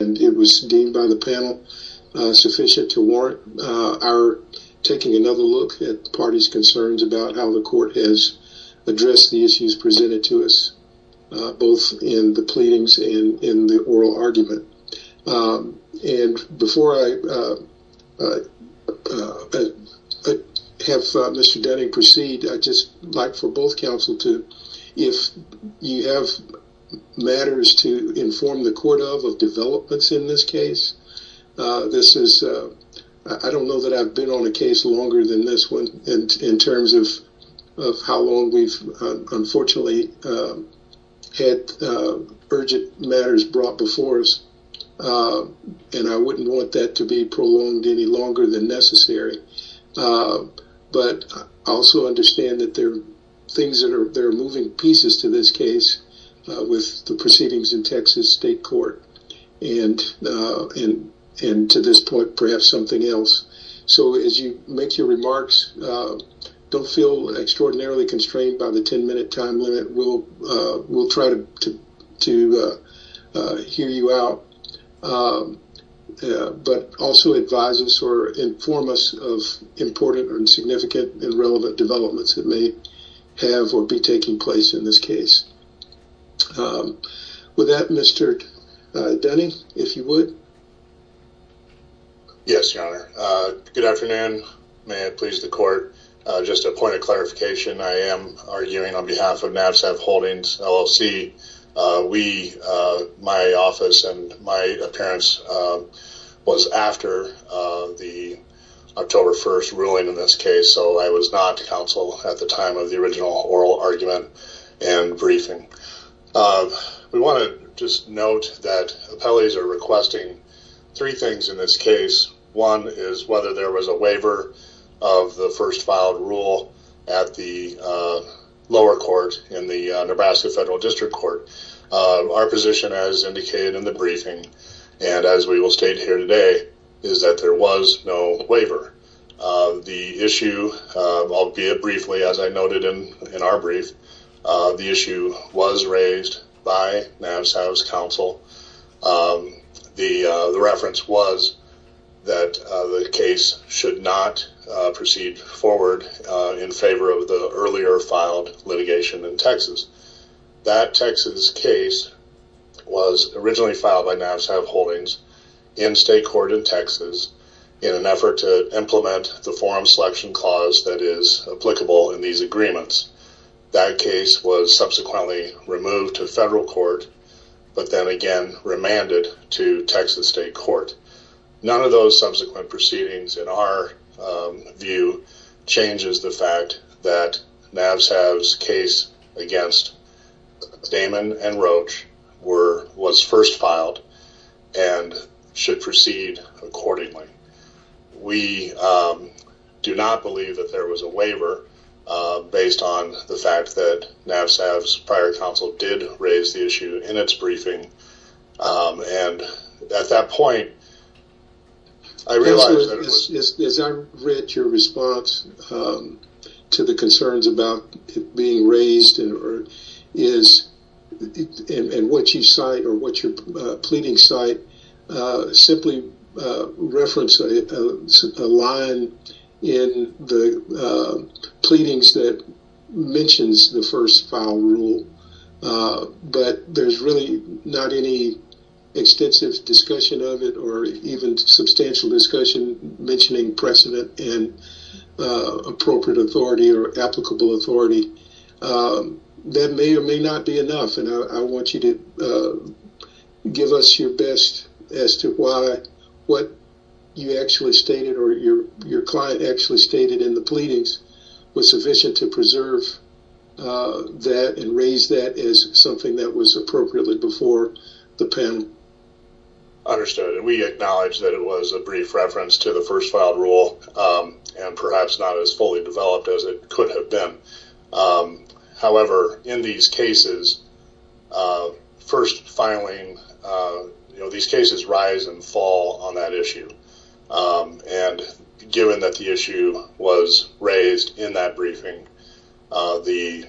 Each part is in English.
It was deemed by the panel sufficient to warrant our taking another look at the party's concerns about how the court has addressed the issues presented to us, both in the pleadings and in the oral argument. Before I have Mr. Dunning proceed, I'd just like for both counsel to, if you have matters to inform the court of developments in this case. I don't know that I've been on a case longer than this one in terms of how long we've unfortunately had urgent matters brought before us, and I wouldn't want that to be prolonged any longer than necessary. But I also understand that there are things that are moving pieces to this case with the proceedings in Texas State Court, and to this point, perhaps something else. So as you make your remarks, don't feel extraordinarily constrained by the 10-minute time limit. We'll try to hear you out. But also advise us or inform us of important and significant and relevant developments that may have or be taking place in this case. With that, Mr. Dunning, if you would. Yes, Your Honor. Good afternoon. May it please the court. Just a point of clarification, I am arguing on behalf of Navsav Holdings, LLC. My office and my appearance was after the October 1st ruling in this case, so I was not counsel at the time of the original oral argument and briefing. We want to just note that appellees are requesting three things in this case. One is whether there was a waiver of the first filed rule at the lower court in the Nebraska Federal District Court. Our position as indicated in the briefing, and as we will state here today, is that there was no waiver. The issue, albeit briefly, as I noted in our brief, the issue was raised by Navsav's counsel. The reference was that the case should not proceed forward in favor of the earlier filed litigation in Texas. That Texas case was originally filed by Navsav Holdings in state court in Texas in an effort to implement the forum selection clause that is applicable in these agreements. That case was subsequently removed to federal court, but then again remanded to Texas state court. None of those subsequent proceedings, in our view, changes the fact that Navsav's case against Damon and Roach was first filed and should proceed accordingly. We do not believe that there was a waiver, based on the fact that Navsav's prior counsel did raise the issue in its briefing. At that point, I realized that it was- As I read your response to the concerns about it being raised, and what you cite, or what I'm saying, a line in the pleadings that mentions the first file rule, but there's really not any extensive discussion of it or even substantial discussion mentioning precedent and appropriate authority or applicable authority, that may or may not be enough. I want you to give us your best as to why what you actually stated or your client actually stated in the pleadings was sufficient to preserve that and raise that as something that was appropriately before the panel. Understood. We acknowledge that it was a brief reference to the first file rule and perhaps not as fully developed as it could have been. However, in these cases, first filing, these cases rise and fall on that issue. Given that the issue was raised in that briefing, the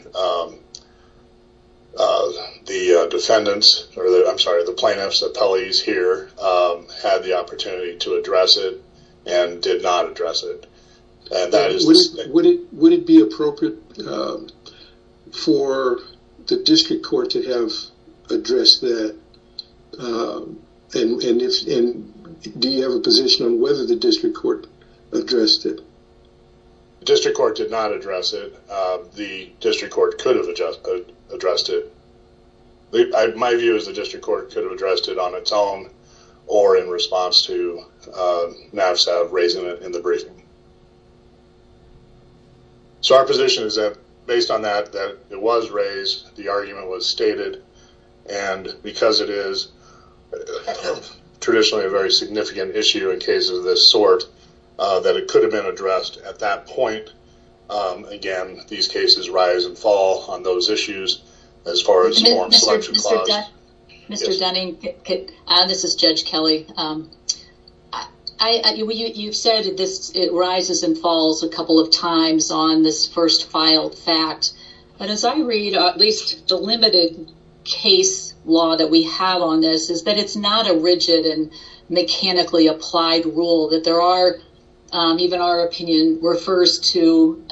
defendants, or I'm sorry, the plaintiffs, the appellees here had the opportunity to address it and did not address it. Would it be appropriate for the district court to have addressed that? Do you have a position on whether the district court addressed it? The district court did not address it. The district court could have addressed it. My view is the district court could have addressed it on its own or in response to NAVSAV raising it in the briefing. Our position is that based on that, that it was raised, the argument was stated. Because it is traditionally a very significant issue in cases of this sort, that it could have been addressed at that point. Again, these cases rise and fall on those issues as far as forms of selection clause. Mr. Dunning, this is Judge Kelly. You've said it rises and falls a couple of times on this first filed fact. As I read, at least the limited case law that we have on this, is that it's not a rigid and mechanically applied rule. Even our opinion refers to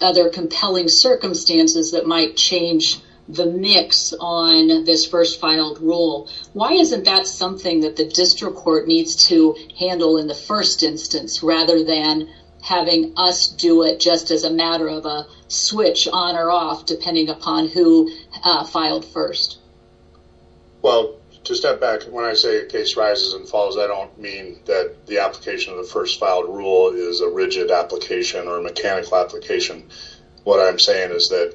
other compelling circumstances that might change the mix on this first filed rule. Why isn't that something that the district court needs to handle in the first instance rather than having us do it just as a matter of a switch on or off depending upon who filed first? Well, to step back, when I say a case rises and falls, I don't mean that the application of the first filed rule is a rigid application or a mechanical application. What I'm saying is that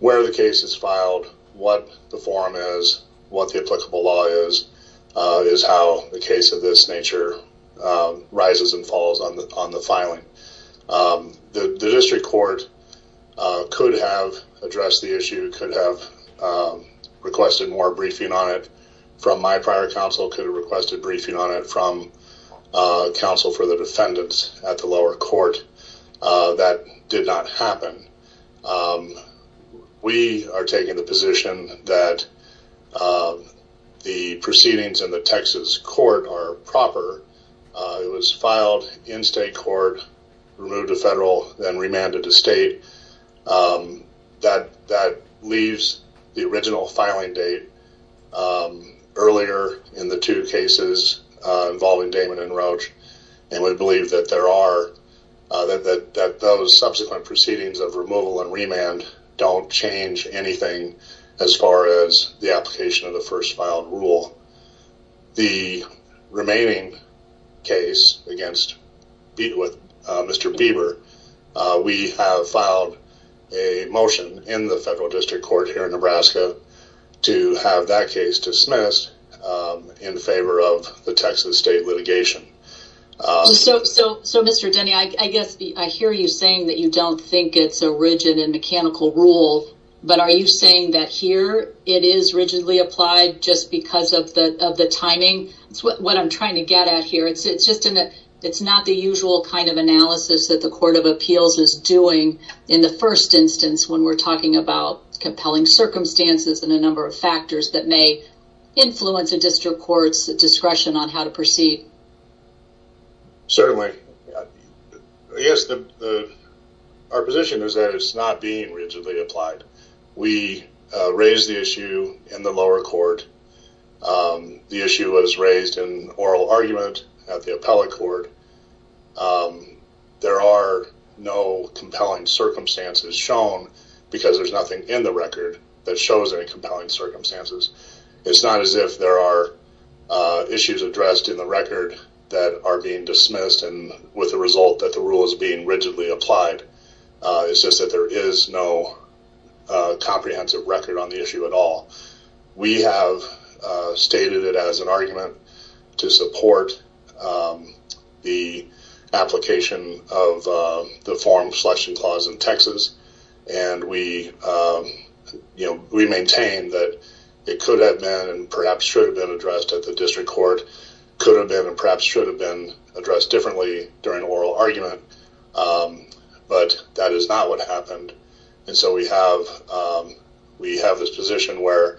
where the case is filed, what the form is, what the applicable law is, is how the case of this nature rises and falls on the filing. The district court could have addressed the issue, could have requested more briefing on it from my prior counsel, could have requested briefing on it from counsel for the defendants at the lower court. That did not happen. We are taking the position that the proceedings in the Texas court are proper. It was filed in state court, removed to federal, then remanded to state. That leaves the original filing date earlier in the two cases involving Damon and Roach. We believe that those subsequent proceedings of removal and remand don't change anything as far as the application of the first filed rule. The remaining case against Mr. Bieber, we have filed a motion in the federal district court here in Nebraska to have that case dismissed in favor of the Texas state litigation. So Mr. Denny, I hear you saying that you don't think it's a rigid and mechanical rule, but are you saying that here, it is rigidly applied just because of the timing? What I'm trying to get at here, it's not the usual kind of analysis that the court of appeals is doing in the first instance when we're talking about compelling circumstances and a number of factors that may influence a district court's discretion on how to proceed. Certainly. I guess our position is that it's not being rigidly applied. We raised the issue in the lower court. The issue was raised in oral argument at the appellate court. There are no compelling circumstances shown because there's nothing in the record that shows any compelling circumstances. It's not as if there are issues addressed in the record that are being dismissed and with the result that the rule is being rigidly applied, it's just that there is no comprehensive record on the issue at all. We have stated it as an argument to support the application of the forum selection clause in Texas and we maintain that it could have been and perhaps should have been addressed at the district court, could have been and perhaps should have been addressed differently during oral argument, but that is not what happened. We have this position where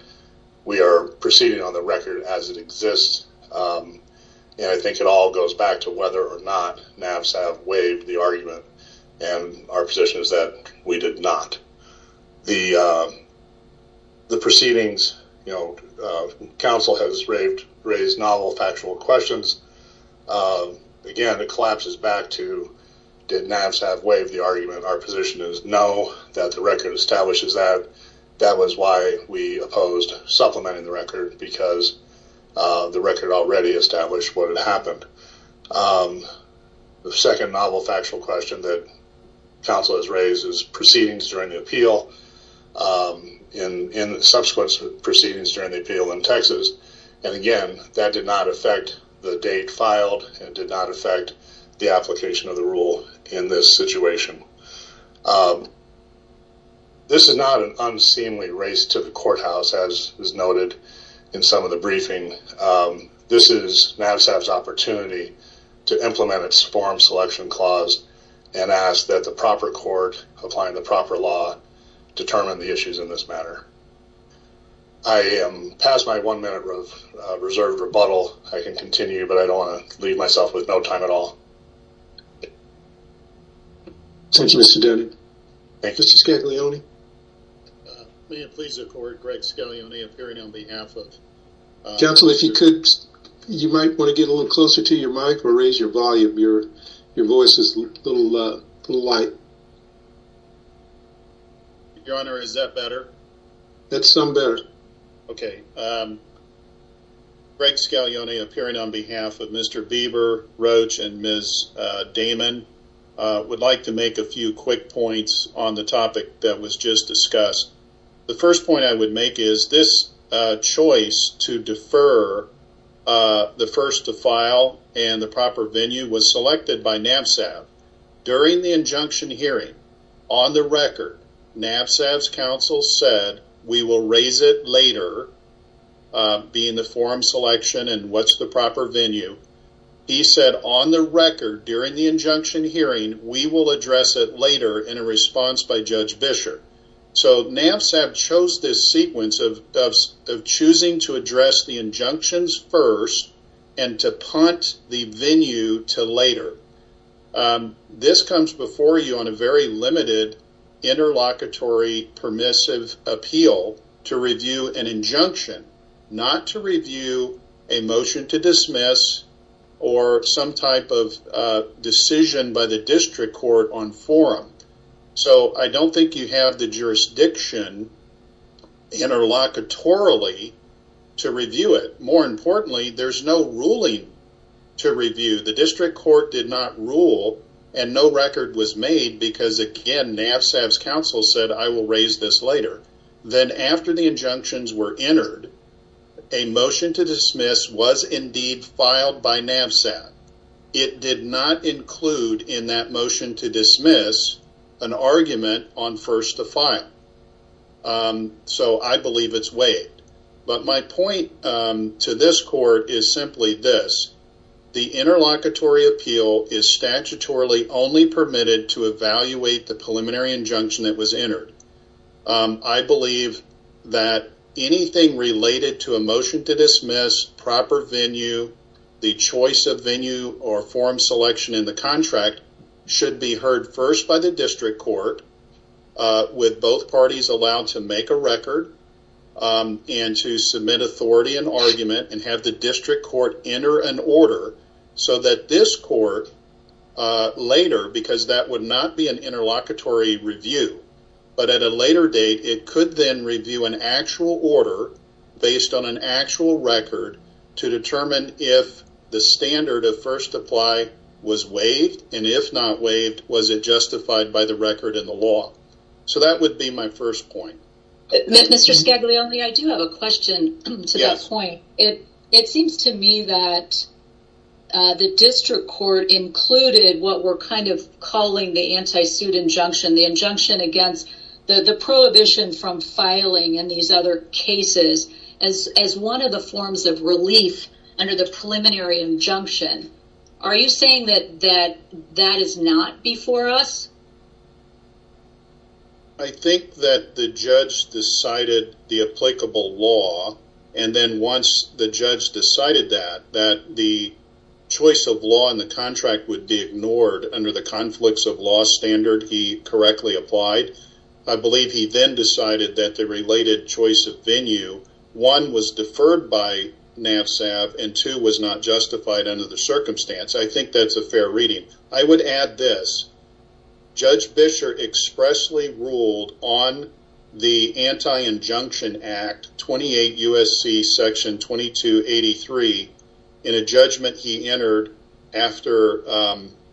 we are proceeding on the record as it exists and I think it all goes back to whether or not NAVSAV waived the argument and our position is that we did not. The proceedings, counsel has raised novel factual questions. Again, it collapses back to did NAVSAV waive the argument. Our position is no, that the record establishes that. That was why we opposed supplementing the record because the record already established what had happened. The second novel factual question that counsel has raised is proceedings during the appeal and subsequent proceedings during the appeal in Texas and again, that did not affect the date filed and did not affect the application of the rule in this situation. This is not an unseemly race to the courthouse as is noted in some of the briefing. This is NAVSAV's opportunity to implement its form selection clause and ask that the proper court, applying the proper law, determine the issues in this matter. I am past my one minute of reserved rebuttal. I can continue, but I don't want to leave myself with no time at all. Thank you, Mr. Denny. Mr. Scaglione. May it please the court, Greg Scaglione, appearing on behalf of- Counsel, if you could, you might want to get a little closer to your mic or raise your volume. Your voice is a little light. Your Honor, is that better? That's some better. Okay. Greg Scaglione, appearing on behalf of Mr. Bieber, Roach, and Ms. Damon, would like to make a few quick points on the topic that was just discussed. The first point I would make is this choice to defer the first to file and the proper venue was selected by NAVSAV. During the injunction hearing, on the record, NAVSAV's counsel said, we will raise it later, being the form selection and what's the proper venue. He said, on the record, during the injunction hearing, we will address it later in a response by Judge Bisher. So, NAVSAV chose this sequence of choosing to address the injunctions first and to punt the venue to later. This comes before you on a very limited interlocutory permissive appeal to review an motion to dismiss or some type of decision by the district court on forum. So, I don't think you have the jurisdiction interlocutorily to review it. More importantly, there's no ruling to review. The district court did not rule and no record was made because, again, NAVSAV's counsel said, I will raise this later. Then, after the injunctions were entered, a motion to dismiss was indeed filed by NAVSAV. It did not include in that motion to dismiss an argument on first to file. So, I believe it's waived. But my point to this court is simply this. The interlocutory appeal is statutorily only permitted to evaluate the preliminary injunction that was entered. I believe that anything related to a motion to dismiss, proper venue, the choice of venue or forum selection in the contract should be heard first by the district court with both parties allowed to make a record and to submit authority and argument and have the district court enter an order so that this court later, because that would not be an interlocutory review. But at a later date, it could then review an actual order based on an actual record to determine if the standard of first to apply was waived and if not waived, was it justified by the record in the law. So, that would be my first point. Mr. Scaglioli, I do have a question to that point. It seems to me that the district court included what we're kind of calling the anti-suit injunction, the injunction against the prohibition from filing in these other cases as one of the forms of relief under the preliminary injunction. Are you saying that that is not before us? I think that the judge decided the applicable law and then once the judge decided that, that the choice of law in the contract would be ignored under the conflicts of law standard he correctly applied. I believe he then decided that the related choice of venue, one was deferred by NAVSAV and two was not justified under the circumstance. I think that's a fair reading. I would add this. Judge Bisher expressly ruled on the Anti-Injunction Act 28 U.S.C. Section 2283 in a judgment he entered after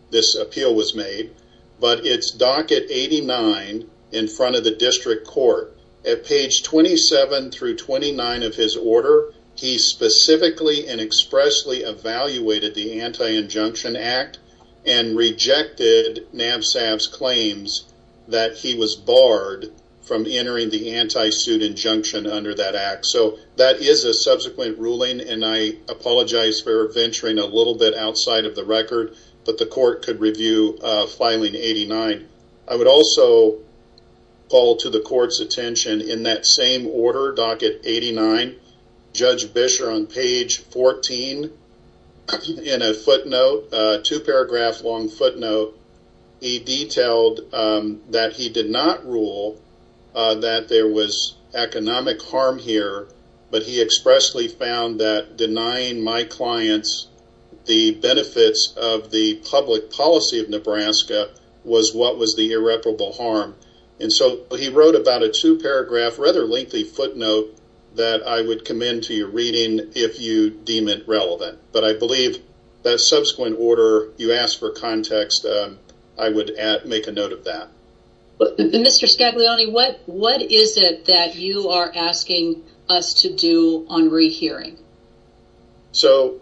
this appeal was made, but it's docket 89 in front of the district court. At page 27 through 29 of his order, he specifically and expressly evaluated the Anti-Injunction Act and rejected NAVSAV's claims that he was barred from entering the anti-suit injunction under that act. So, that is a subsequent ruling and I apologize for venturing a little bit outside of the record, but the court could review filing 89. I would also call to the court's attention in that same order, docket 89, Judge Bisher on page 14 in a footnote, a two-paragraph long footnote, he detailed that he did not rule that there was economic harm here, but he expressly found that denying my clients the benefits of the public policy of Nebraska was what was the irreparable harm. And so, he wrote about a two-paragraph rather lengthy footnote that I would commend to your reading if you deem it relevant. But I believe that subsequent order, you asked for context, I would make a note of that. Mr. Scaglione, what is it that you are asking us to do on rehearing? So,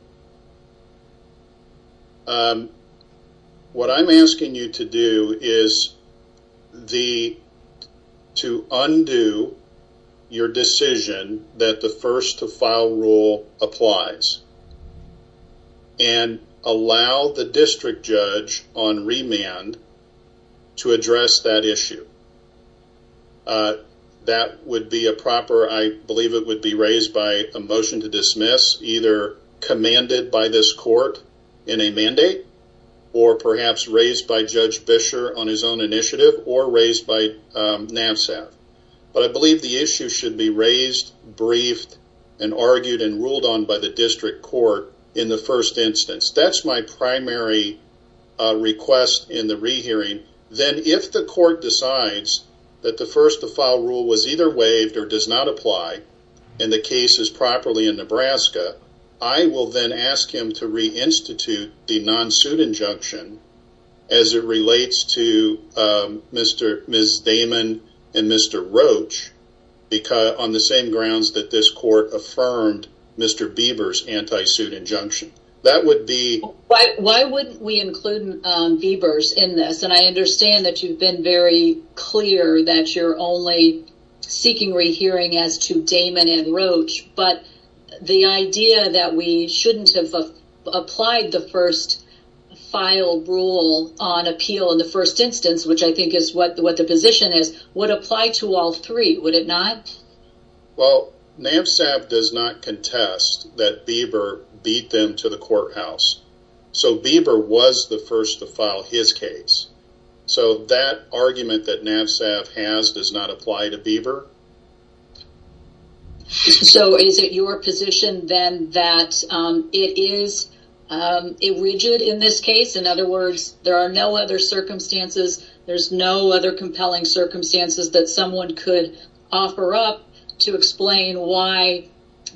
what I'm asking you to do is to undo your decision that the first-to-file rule applies and allow the district judge on remand to address that issue. That would be a proper, I believe it would be raised by a motion to dismiss, either commanded by this court in a mandate, or perhaps raised by Judge Bisher on his own initiative or raised by NAVSAF. But I believe the issue should be raised, briefed, and argued and ruled on by the district court in the first instance. That's my primary request in the rehearing. Then, if the court decides that the first-to-file rule was either waived or does not apply and the case is properly in Nebraska, I will then ask him to reinstitute the non-suit injunction as it relates to Ms. Damon and Mr. Roach on the same grounds that this court affirmed Mr. Bieber's anti-suit injunction. Why wouldn't we include Bieber in this? I understand that you've been very clear that you're only seeking rehearing as to Damon and Roach, but the idea that we shouldn't have applied the first-file rule on appeal in the first instance, which I think is what the position is, would apply to all three, would it not? Well, NAVSAF does not contest that Bieber beat them to the courthouse. So, Bieber was the first-to-file, his case. So, that argument that NAVSAF has does not apply to Bieber. So, is it your position then that it is rigid in this case? In other words, there are no other circumstances, there's no other compelling circumstances that someone could offer up to explain why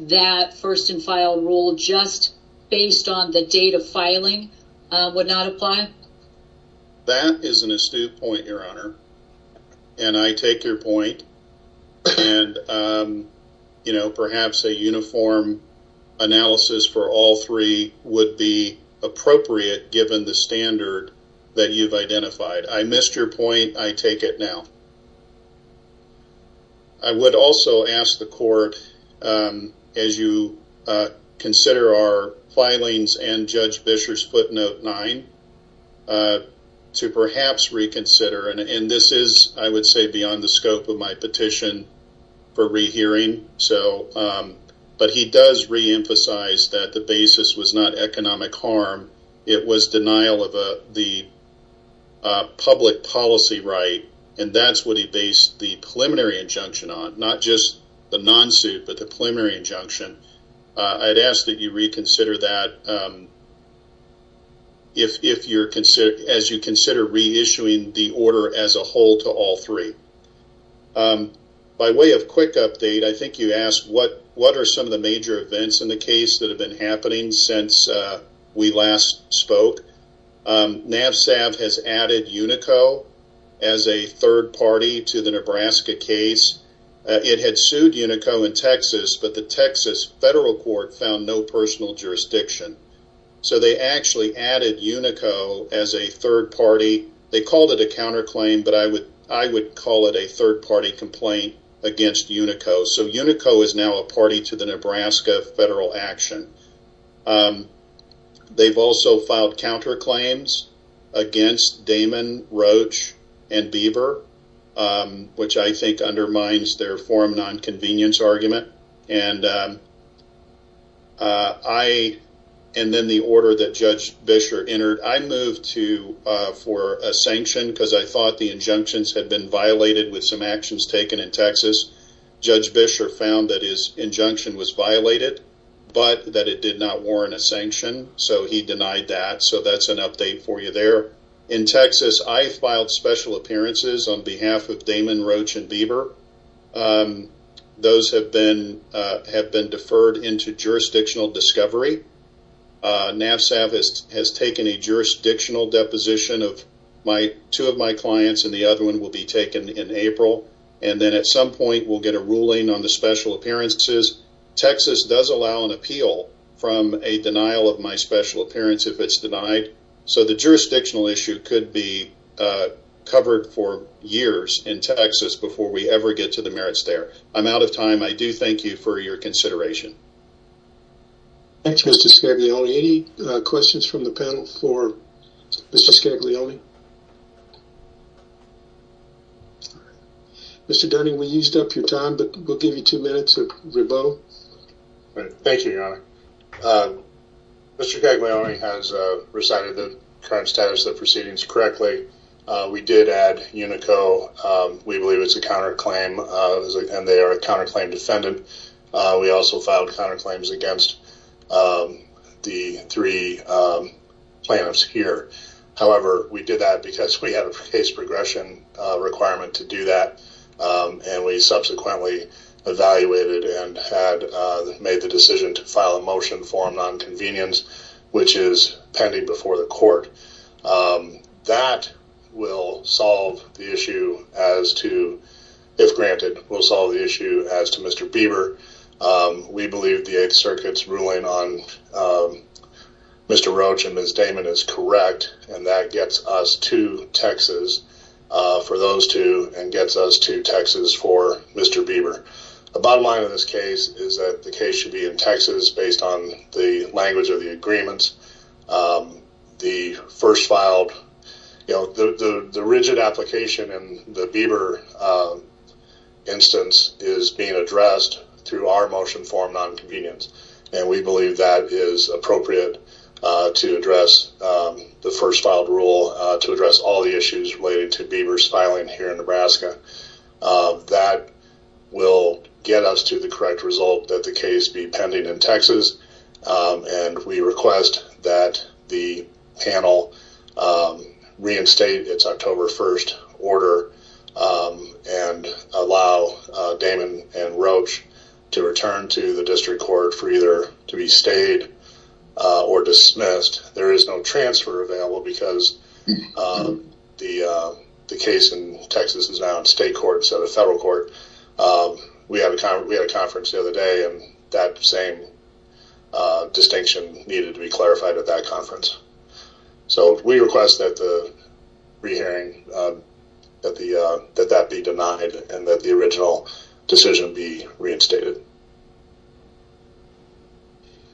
that first-in-file rule just based on the date of filing would not apply? That is an astute point, Your Honor. And I take your point, and perhaps a uniform analysis for all three would be appropriate given the standard that you've identified. I missed your point, I take it now. I would also ask the Court, as you consider our filings and Judge Bisher's footnote 9, to perhaps reconsider, and this is, I would say, beyond the scope of my petition for rehearing, but he does reemphasize that the basis was not economic harm, it was denial of the public policy right, and that's what he based the preliminary injunction on, not just the non-suit but the preliminary injunction. I'd ask that you reconsider that as you consider reissuing the order as a whole to all three. By way of quick update, I think you asked what are some of the major events in the case that have been happening since we last spoke. NAVSAV has added Unico as a third party to the Nebraska case. It had sued Unico in Texas, but the Texas federal court found no personal jurisdiction. So they actually added Unico as a third party. They called it a counterclaim, but I would call it a third party complaint against Unico. So Unico is now a party to the Nebraska federal action. They've also filed counterclaims against Damon, Roach, and Bieber, which I think undermines their forum non-convenience argument. And then the order that Judge Bisher entered, I moved for a sanction because I thought the injunctions had been violated with some actions taken in Texas. Judge Bisher found that his injunction was violated, but that it did not warrant a sanction. So he denied that, so that's an update for you there. In Texas, I filed special appearances on behalf of Damon, Roach, and Bieber. Those have been deferred into jurisdictional discovery. NAVSAV has taken a jurisdictional deposition. Two of my clients and the other one will be taken in April. And then at some point, we'll get a ruling on the special appearances. Texas does allow an appeal from a denial of my special appearance if it's denied. So the jurisdictional issue could be covered for years in Texas before we ever get to the merits there. I'm out of time. I do thank you for your consideration. Thanks, Mr. Scaglione. Any questions from the panel for Mr. Scaglione? Mr. Dunning, we used up your time, but we'll give you two minutes of rebuttal. Thank you, Your Honor. Mr. Scaglione has recited the current status of the proceedings correctly. We did add UNICO. We believe it's a counterclaim and they are a counterclaim defendant. We also filed counterclaims against the three plaintiffs here. However, we did that because we had a case progression requirement to do that and we subsequently evaluated and had made the decision to file a motion for nonconvenience, which is pending before the court. That will solve the issue as to, if granted, will solve the issue as to Mr. Bieber. We believe the Eighth Circuit's ruling on Mr. Roach and Ms. Damon is correct and that gets us to Texas for those two and gets us to Texas for Mr. Bieber. The bottom line of this case is that the case should be in Texas based on the language of the agreements. The first filed, the rigid application in the Bieber instance is being addressed through our motion for nonconvenience and we believe that is appropriate to address the first filed rule to address all the issues related to Bieber's filing here in Nebraska. That will get us to the correct result that the case be pending in Texas and we request that the panel reinstate its October 1st order and allow Damon and Roach to return to the district court for either to be stayed or dismissed. There is no transfer available because the case in Texas is now in state court instead of federal court. We had a conference the other day and that same distinction needed to be clarified at that conference. We request that the re-hearing be denied and that the original decision be reinstated.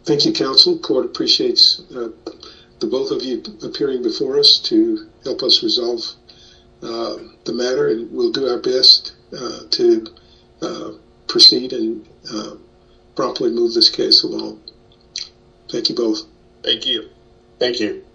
Thank you counsel. Court appreciates the both of you appearing before us to help us resolve the matter and we'll do our best to proceed and properly move this case along. Thank you both. Thank you. Thank you.